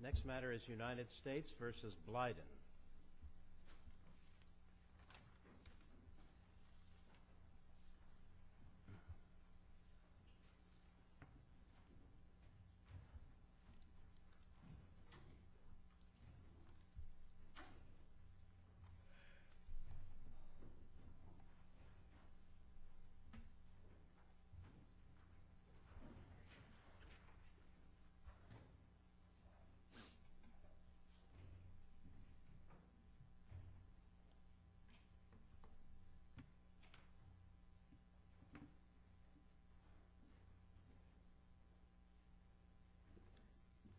The next matter is United States v. Blyden.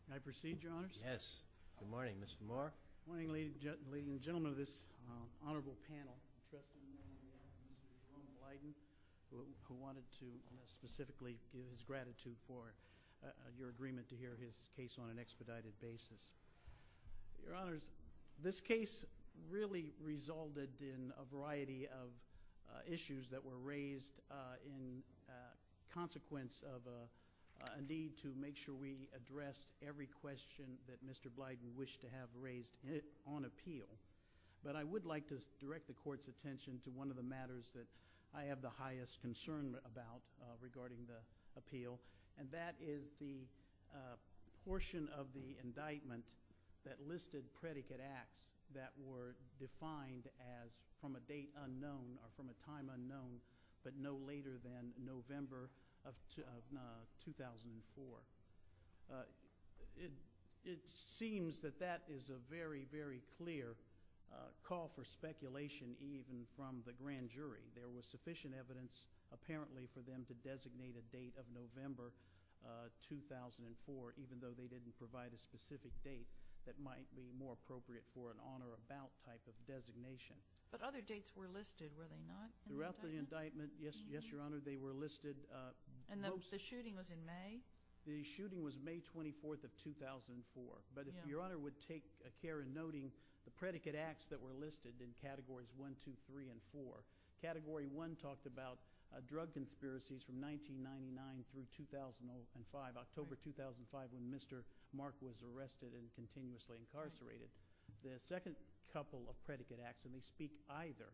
May I proceed, Your Honors? Yes. Good morning, Mr. Moore. Good morning, ladies and gentlemen of this honorable panel. The trustee, Mr. Jerome Blyden, who wanted to specifically give his gratitude for your agreement to hear his case on an expedited basis. Your Honors, this case really resulted in a variety of issues that were raised in consequence of a need to make sure we addressed every question that Mr. Blyden wished to have raised on appeal. But I would like to direct the Court's attention to one of the matters that I have the highest concern about regarding the appeal, and that is the portion of the indictment that listed predicate acts that were defined as from a date unknown or from a time unknown but no later than November of 2004. It seems that that is a very, very clear call for speculation even from the grand jury. There was sufficient evidence apparently for them to designate a date of November 2004, even though they didn't provide a specific date that might be more appropriate for an on or about type of designation. But other dates were listed, were they not? Throughout the indictment, yes, Your Honor, they were listed. And the shooting was in May? The shooting was May 24th of 2004. But if Your Honor would take care in noting the predicate acts that were listed in Categories 1, 2, 3, and 4. Category 1 talked about drug conspiracies from 1999 through 2005, October 2005 when Mr. Mark was arrested and continuously incarcerated. The second couple of predicate acts, and they speak either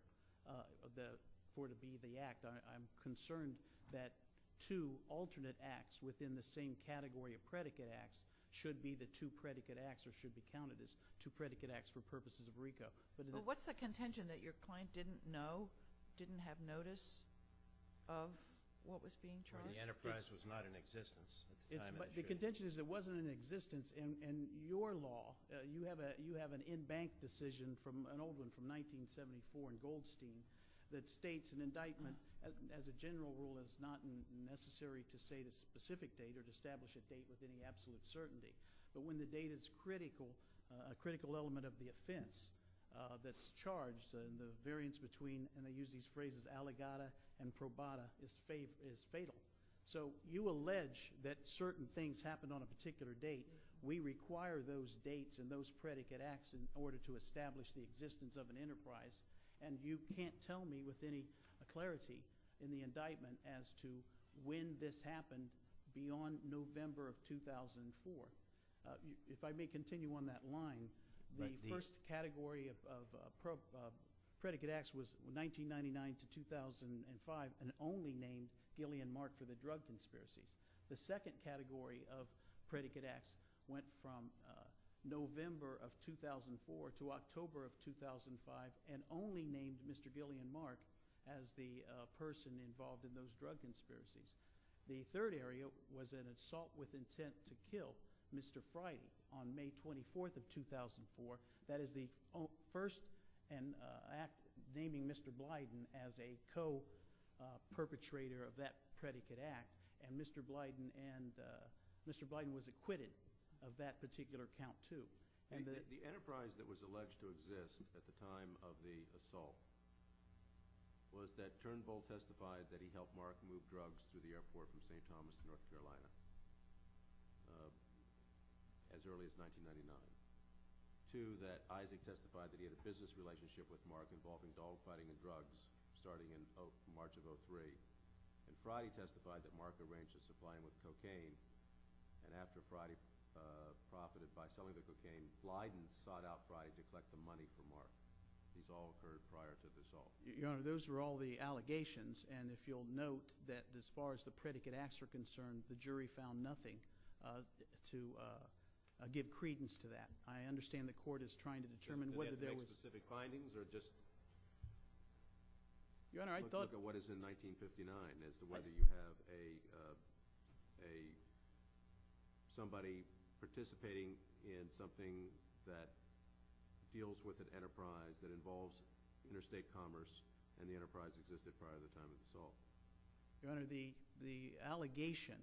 for it to be the act. I'm concerned that two alternate acts within the same category of predicate acts should be the two predicate acts or should be counted as two predicate acts for purposes of RICO. But what's the contention that your client didn't know, didn't have notice of what was being charged? The enterprise was not in existence at the time of the shooting. My contention is it wasn't in existence. In your law, you have an in-bank decision, an old one from 1974 in Goldstein, that states an indictment as a general rule is not necessary to say the specific date or to establish a date with any absolute certainty. But when the date is critical, a critical element of the offense that's charged, and the variance between, and I use these phrases, allegata and probata, is fatal. So you allege that certain things happen on a particular date. We require those dates and those predicate acts in order to establish the existence of an enterprise, and you can't tell me with any clarity in the indictment as to when this happened beyond November of 2004. If I may continue on that line, the first category of predicate acts was 1999 to 2005 and only named Gillian Mark for the drug conspiracies. The second category of predicate acts went from November of 2004 to October of 2005 and only named Mr. Gillian Mark as the person involved in those drug conspiracies. The third area was an assault with intent to kill Mr. Friday on May 24th of 2004. That is the first act naming Mr. Blyden as a co-perpetrator of that predicate act, and Mr. Blyden was acquitted of that particular count too. The enterprise that was alleged to exist at the time of the assault was that Turnbull testified that he helped Mark move drugs through the airport from St. Thomas to North Carolina as early as 1999. Two, that Isaac testified that he had a business relationship with Mark involving dogfighting and drugs starting in March of 2003, and Friday testified that Mark arranged a supply with cocaine, and after Friday profited by selling the cocaine, Blyden sought out Friday to collect the money for Mark. These all occurred prior to the assault. Your Honor, those were all the allegations, and if you'll note that as far as the predicate acts are concerned, the jury found nothing to give credence to that. I understand the court is trying to determine whether there was – Did they have any specific findings or just – Your Honor, I thought – Somebody participating in something that deals with an enterprise that involves interstate commerce, and the enterprise existed prior to the time of the assault. Your Honor, the allegation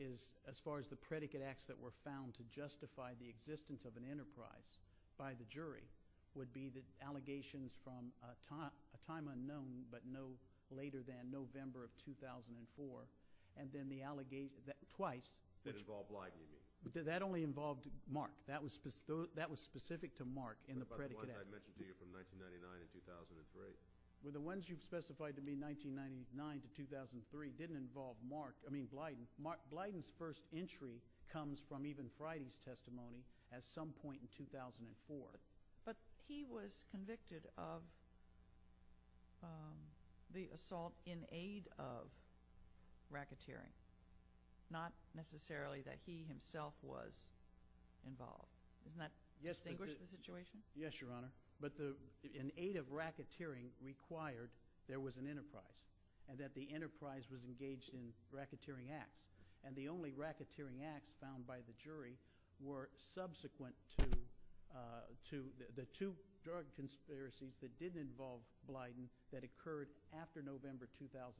is, as far as the predicate acts that were found to justify the existence of an enterprise by the jury, would be the allegations from a time unknown, but no later than November of 2004, and then the – twice. Did it involve Blyden, you mean? That only involved Mark. That was specific to Mark in the predicate act. What about the ones I mentioned to you from 1999 to 2003? Well, the ones you've specified to be 1999 to 2003 didn't involve Mark – I mean Blyden. Blyden's first entry comes from even Friday's testimony at some point in 2004. But he was convicted of the assault in aid of racketeering, not necessarily that he himself was involved. Doesn't that distinguish the situation? Yes, Your Honor. But in aid of racketeering required, there was an enterprise, and that the enterprise was engaged in racketeering acts, and the only racketeering acts found by the jury were subsequent to the two drug conspiracies that didn't involve Blyden that occurred after November 2004,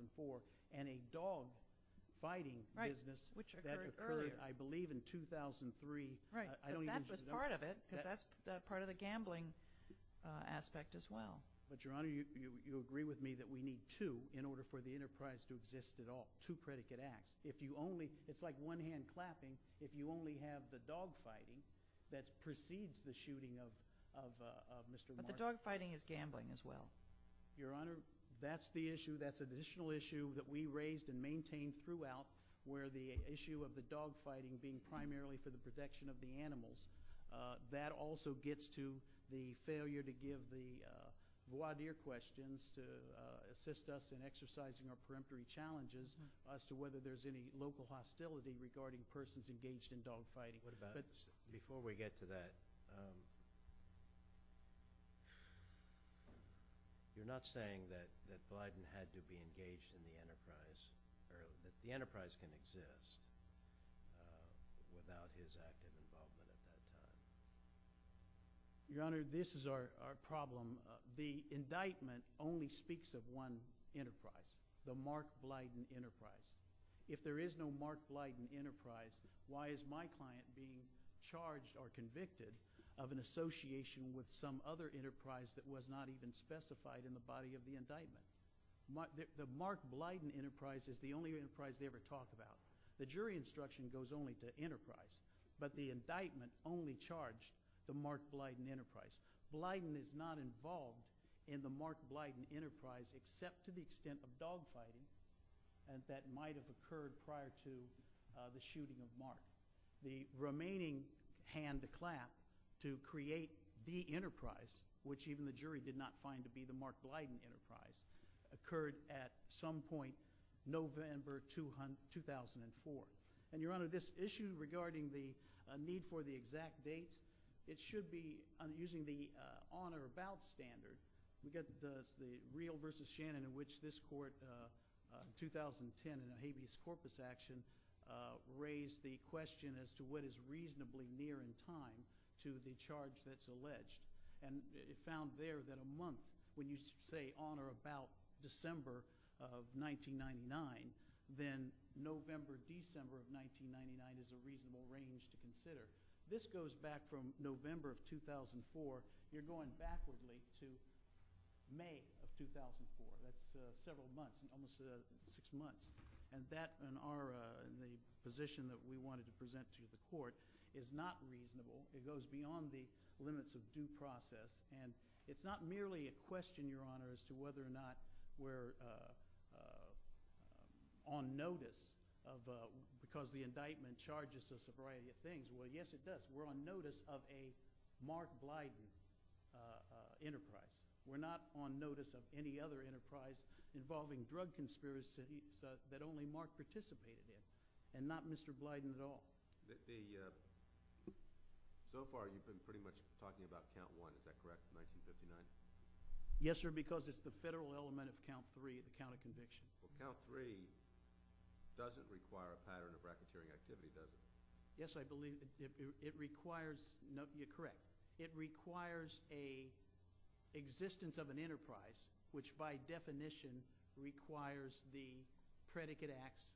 and a dogfighting business that occurred, I believe, in 2003. Right, but that was part of it because that's part of the gambling aspect as well. But, Your Honor, you agree with me that we need two in order for the enterprise to exist at all, two predicate acts. It's like one hand clapping if you only have the dogfighting that precedes the shooting of Mr. Mark. But the dogfighting is gambling as well. Your Honor, that's the issue, that's an additional issue that we raised and maintained throughout where the issue of the dogfighting being primarily for the protection of the animals, that also gets to the failure to give the voir dire questions to assist us in exercising our peremptory challenges as to whether there's any local hostility regarding persons engaged in dogfighting. Before we get to that, you're not saying that Blyden had to be engaged in the enterprise, or that the enterprise can exist without his active involvement at that time? Your Honor, this is our problem. The indictment only speaks of one enterprise, the Mark Blyden enterprise. If there is no Mark Blyden enterprise, why is my client being charged or convicted of an association with some other enterprise that was not even specified in the body of the indictment? The Mark Blyden enterprise is the only enterprise they ever talk about. The jury instruction goes only to enterprise, but the indictment only charged the Mark Blyden enterprise. Blyden is not involved in the Mark Blyden enterprise except to the extent of dogfighting that might have occurred prior to the shooting of Mark. The remaining hand to clap to create the enterprise, which even the jury did not find to be the Mark Blyden enterprise, occurred at some point November 2004. Your Honor, this issue regarding the need for the exact dates, it should be using the on or about standard. We've got the Reel v. Shannon in which this court, 2010 in a habeas corpus action, raised the question as to what is reasonably near in time to the charge that's alleged. It found there that a month, when you say on or about December of 1999, then November, December of 1999 is a reasonable range to consider. This goes back from November of 2004. You're going backwardly to May of 2004. That's several months, almost six months. That and the position that we wanted to present to the court is not reasonable. It goes beyond the limits of due process. It's not merely a question, Your Honor, as to whether or not we're on notice because the indictment charges us a variety of things. Well, yes, it does. We're on notice of a Mark Blyden enterprise. We're not on notice of any other enterprise involving drug conspiracies that only Mark participated in and not Mr. Blyden at all. So far, you've been pretty much talking about count one. Is that correct, 1959? Yes, sir, because it's the federal element of count three, the count of conviction. Well, count three doesn't require a pattern of racketeering activity, does it? Yes, I believe it requires—you're correct. It requires an existence of an enterprise which, by definition, requires the predicate acts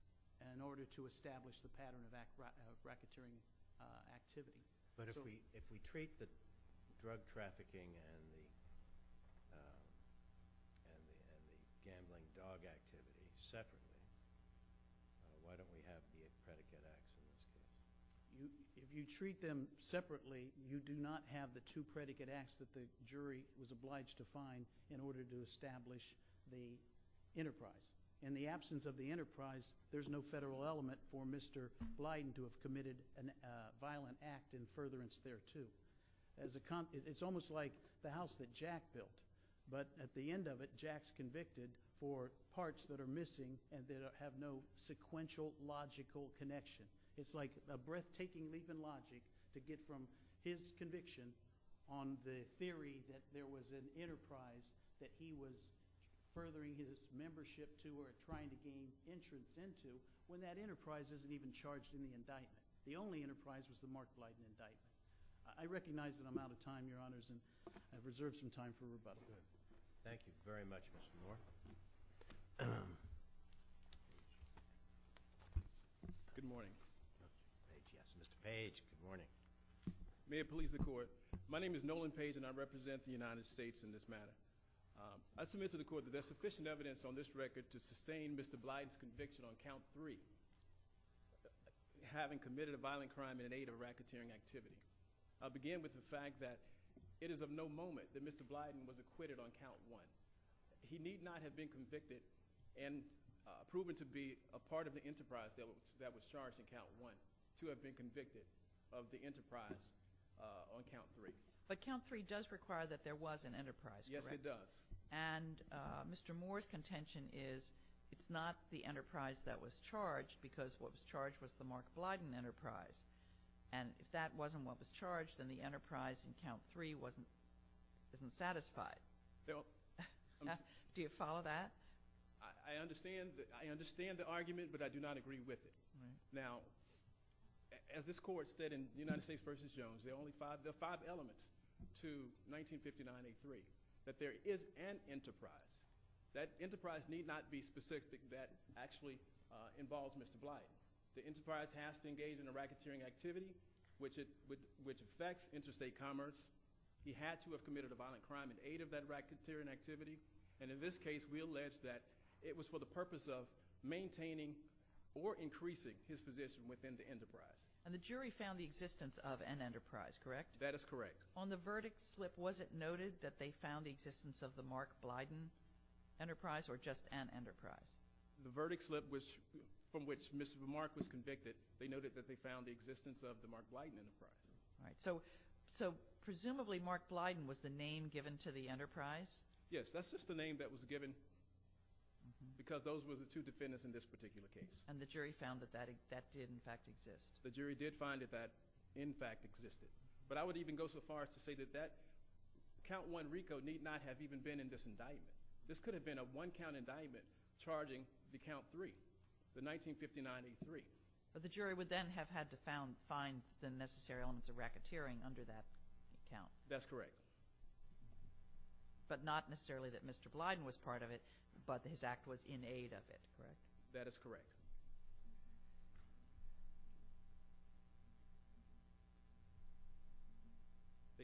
in order to establish the pattern of racketeering activity. But if we treat the drug trafficking and the gambling dog activity separately, why don't we have the predicate acts in this case? If you treat them separately, you do not have the two predicate acts that the jury was obliged to find in order to establish the enterprise. In the absence of the enterprise, there's no federal element for Mr. Blyden to have committed a violent act in furtherance thereto. It's almost like the house that Jack built, but at the end of it, Jack's convicted for parts that are missing and that have no sequential, logical connection. It's like a breathtaking leap in logic to get from his conviction on the theory that there was an enterprise that he was furthering his membership to or trying to gain entrance into, when that enterprise isn't even charged in the indictment. The only enterprise was the Mark Blyden indictment. I recognize that I'm out of time, Your Honors, and I've reserved some time for rebuttal. Thank you very much, Mr. Moore. Good morning. Mr. Page, yes, Mr. Page, good morning. May it please the Court. My name is Nolan Page, and I represent the United States in this matter. I submit to the Court that there's sufficient evidence on this record to sustain Mr. Blyden's conviction on count three, having committed a violent crime in an aid of racketeering activity. I'll begin with the fact that it is of no moment that Mr. Blyden was acquitted on count one. He need not have been convicted and proven to be a part of the enterprise that was charged in count one to have been convicted of the enterprise on count three. But count three does require that there was an enterprise, correct? Yes, it does. And Mr. Moore's contention is it's not the enterprise that was charged because what was charged was the Mark Blyden enterprise. And if that wasn't what was charged, then the enterprise in count three wasn't satisfied. Do you follow that? I understand the argument, but I do not agree with it. Now, as this Court said in United States v. Jones, there are five elements to 1959A3 that there is an enterprise. That enterprise need not be specific that actually involves Mr. Blyden. The enterprise has to engage in a racketeering activity which affects interstate commerce. He had to have committed a violent crime in aid of that racketeering activity. And in this case, we allege that it was for the purpose of maintaining or increasing his position within the enterprise. And the jury found the existence of an enterprise, correct? That is correct. On the verdict slip, was it noted that they found the existence of the Mark Blyden enterprise or just an enterprise? The verdict slip from which Mr. Mark was convicted, they noted that they found the existence of the Mark Blyden enterprise. All right. So presumably, Mark Blyden was the name given to the enterprise? Yes. That's just the name that was given because those were the two defendants in this particular case. And the jury found that that did, in fact, exist? The jury did find that that, in fact, existed. But I would even go so far as to say that that count one RICO need not have even been in this indictment. This could have been a one-count indictment charging the count three, the 1959A3. The jury would then have had to find the necessary elements of racketeering under that count. That's correct. But not necessarily that Mr. Blyden was part of it, but his act was in aid of it, correct? That is correct.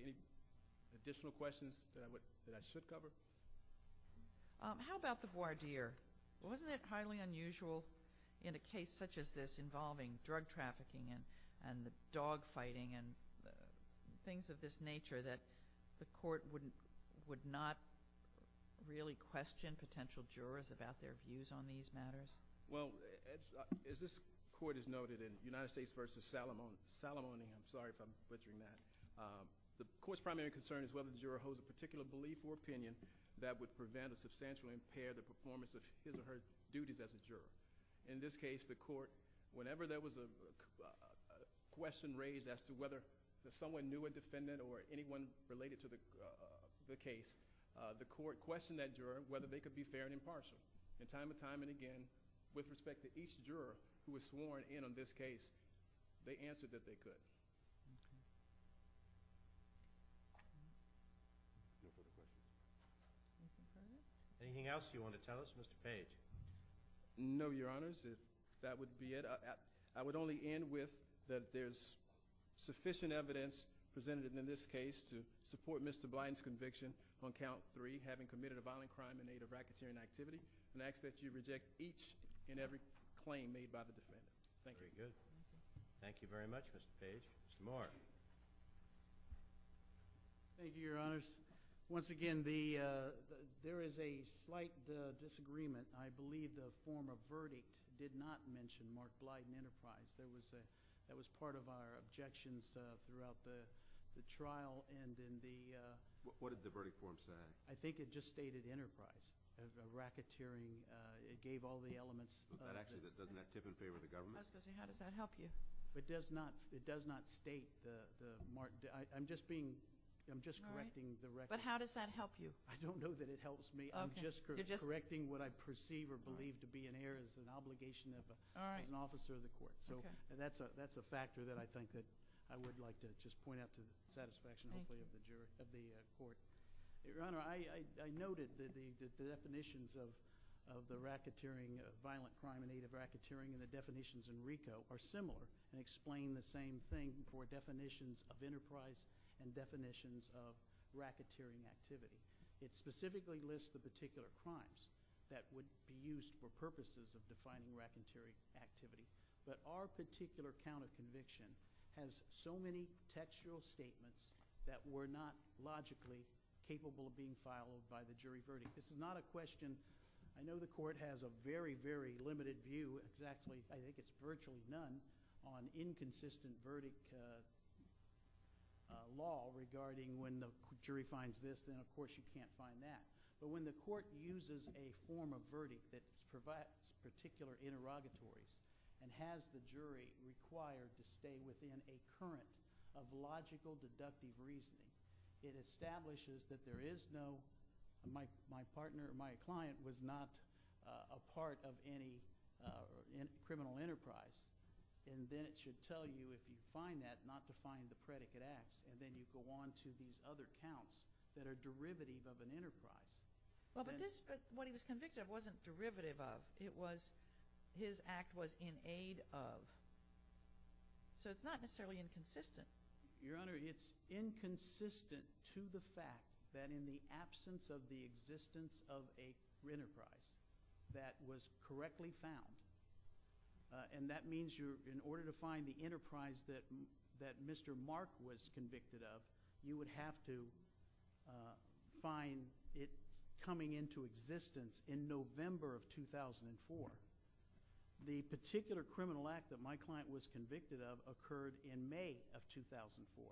Any additional questions that I should cover? How about the voir dire? Wasn't it highly unusual in a case such as this involving drug trafficking and dog fighting and things of this nature that the court would not really question potential jurors about their views on these matters? Well, as this court has noted in United States v. Salamone, I'm sorry if I'm butchering that, the court's primary concern is whether the juror holds a particular belief or opinion that would prevent or substantially impair the performance of his or her duties as a juror. In this case, the court, whenever there was a question raised as to whether someone knew a defendant or anyone related to the case, the court questioned that juror whether they could be fair and impartial. And time and time again, with respect to each juror who was sworn in on this case, they answered that they could. Anything else you want to tell us, Mr. Page? No, Your Honors, if that would be it. I would only end with that there's sufficient evidence presented in this case to support Mr. Blyden's conviction on count three, having committed a violent crime in aid of racketeering activity, and I ask that you reject each and every claim made by the defendant. Thank you. Very good. Thank you very much, Mr. Page. Mr. Moore. Thank you, Your Honors. Once again, there is a slight disagreement. I believe the former verdict did not mention Mark Blyden Enterprise. That was part of our objections throughout the trial and in the— What did the verdict form say? I think it just stated Enterprise, racketeering. It gave all the elements— Doesn't that tip in favor of the government? I was going to say, how does that help you? It does not state the—I'm just being—I'm just correcting the record. But how does that help you? I don't know that it helps me. I'm just correcting what I perceive or believe to be an error as an obligation as an officer of the court. So that's a factor that I think that I would like to just point out to the satisfaction, hopefully, of the court. Your Honor, I noted that the definitions of the racketeering, violent crime in aid of racketeering, and the definitions in RICO are similar and explain the same thing for definitions of Enterprise and definitions of racketeering activity. It specifically lists the particular crimes that would be used for purposes of defining racketeering activity. But our particular counterconviction has so many textual statements that were not logically capable of being followed by the jury verdict. This is not a question—I know the court has a very, very limited view. Actually, I think it's virtually none on inconsistent verdict law regarding when the jury finds this. Then, of course, you can't find that. But when the court uses a form of verdict that provides particular interrogatories and has the jury required to stay within a current of logical deductive reasoning, it establishes that there is no—my partner or my client was not a part of any criminal enterprise. And then it should tell you, if you find that, not to find the predicate acts. And then you go on to these other counts that are derivative of an enterprise. Well, but this—what he was convicted of wasn't derivative of. It was—his act was in aid of. So it's not necessarily inconsistent. Your Honor, it's inconsistent to the fact that in the absence of the existence of a enterprise that was correctly found, and that means you're—in order to find the enterprise that Mr. Mark was convicted of, you would have to find it coming into existence in November of 2004. The particular criminal act that my client was convicted of occurred in May of 2004.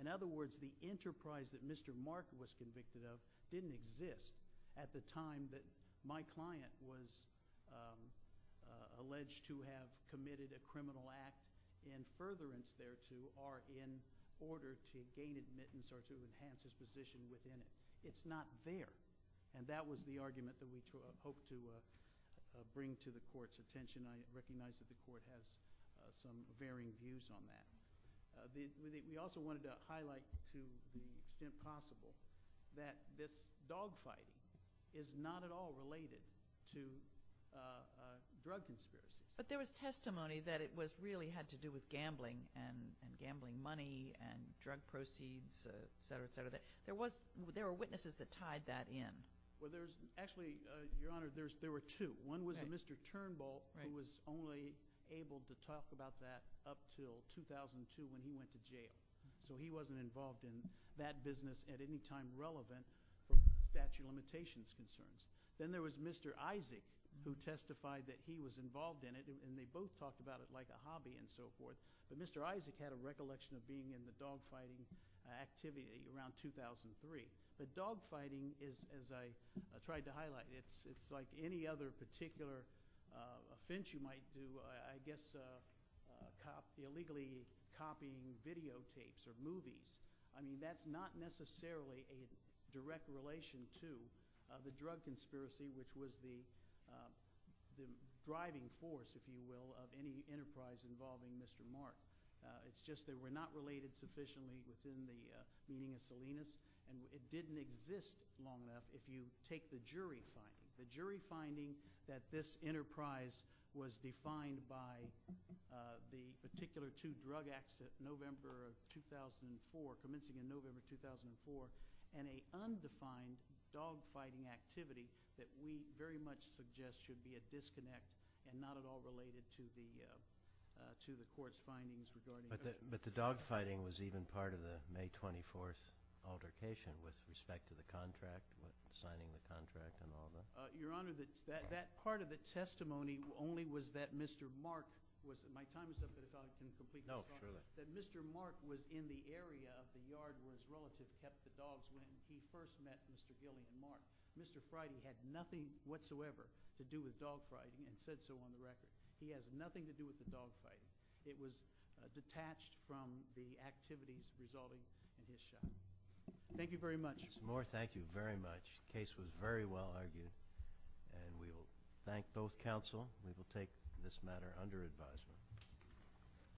In other words, the enterprise that Mr. Mark was convicted of didn't exist at the time that my client was alleged to have committed a criminal act in furtherance thereto or in order to gain admittance or to enhance his position within it. It's not there. And that was the argument that we hoped to bring to the Court's attention. I recognize that the Court has some varying views on that. We also wanted to highlight to the extent possible that this dogfighting is not at all related to drug conspiracies. But there was testimony that it really had to do with gambling and gambling money and drug proceeds, et cetera, et cetera. There were witnesses that tied that in. Well, there's—actually, Your Honor, there were two. One was Mr. Turnbull who was only able to talk about that up until 2002 when he went to jail. So he wasn't involved in that business at any time relevant for statute of limitations concerns. Then there was Mr. Isaac who testified that he was involved in it, and they both talked about it like a hobby and so forth. But Mr. Isaac had a recollection of being in the dogfighting activity around 2003. But dogfighting is, as I tried to highlight, it's like any other particular offense you might do, I guess, illegally copying videotapes or movies. I mean, that's not necessarily a direct relation to the drug conspiracy, which was the driving force, if you will, of any enterprise involving Mr. Mark. It's just they were not related sufficiently within the meeting of Salinas, and it didn't exist long enough. If you take the jury finding, the jury finding that this enterprise was defined by the particular two drug acts of November of 2004, commencing in November of 2004, and a undefined dogfighting activity that we very much suggest should be a disconnect and not at all related to the court's findings regarding— But the dogfighting was even part of the May 24th altercation with respect to the contract, signing the contract and all that? Your Honor, that part of the testimony only was that Mr. Mark was—my time is up, but if I can complete my thought on that. No, surely. That Mr. Mark was in the area of the yard where his relative kept the dogs when he first met Mr. Gillian Mark. Mr. Friday had nothing whatsoever to do with dogfighting and said so on the record. He has nothing to do with the dogfighting. It was detached from the activities resulting in his shot. Thank you very much. Mr. Moore, thank you very much. The case was very well argued, and we will thank both counsel. We will take this matter under advisement.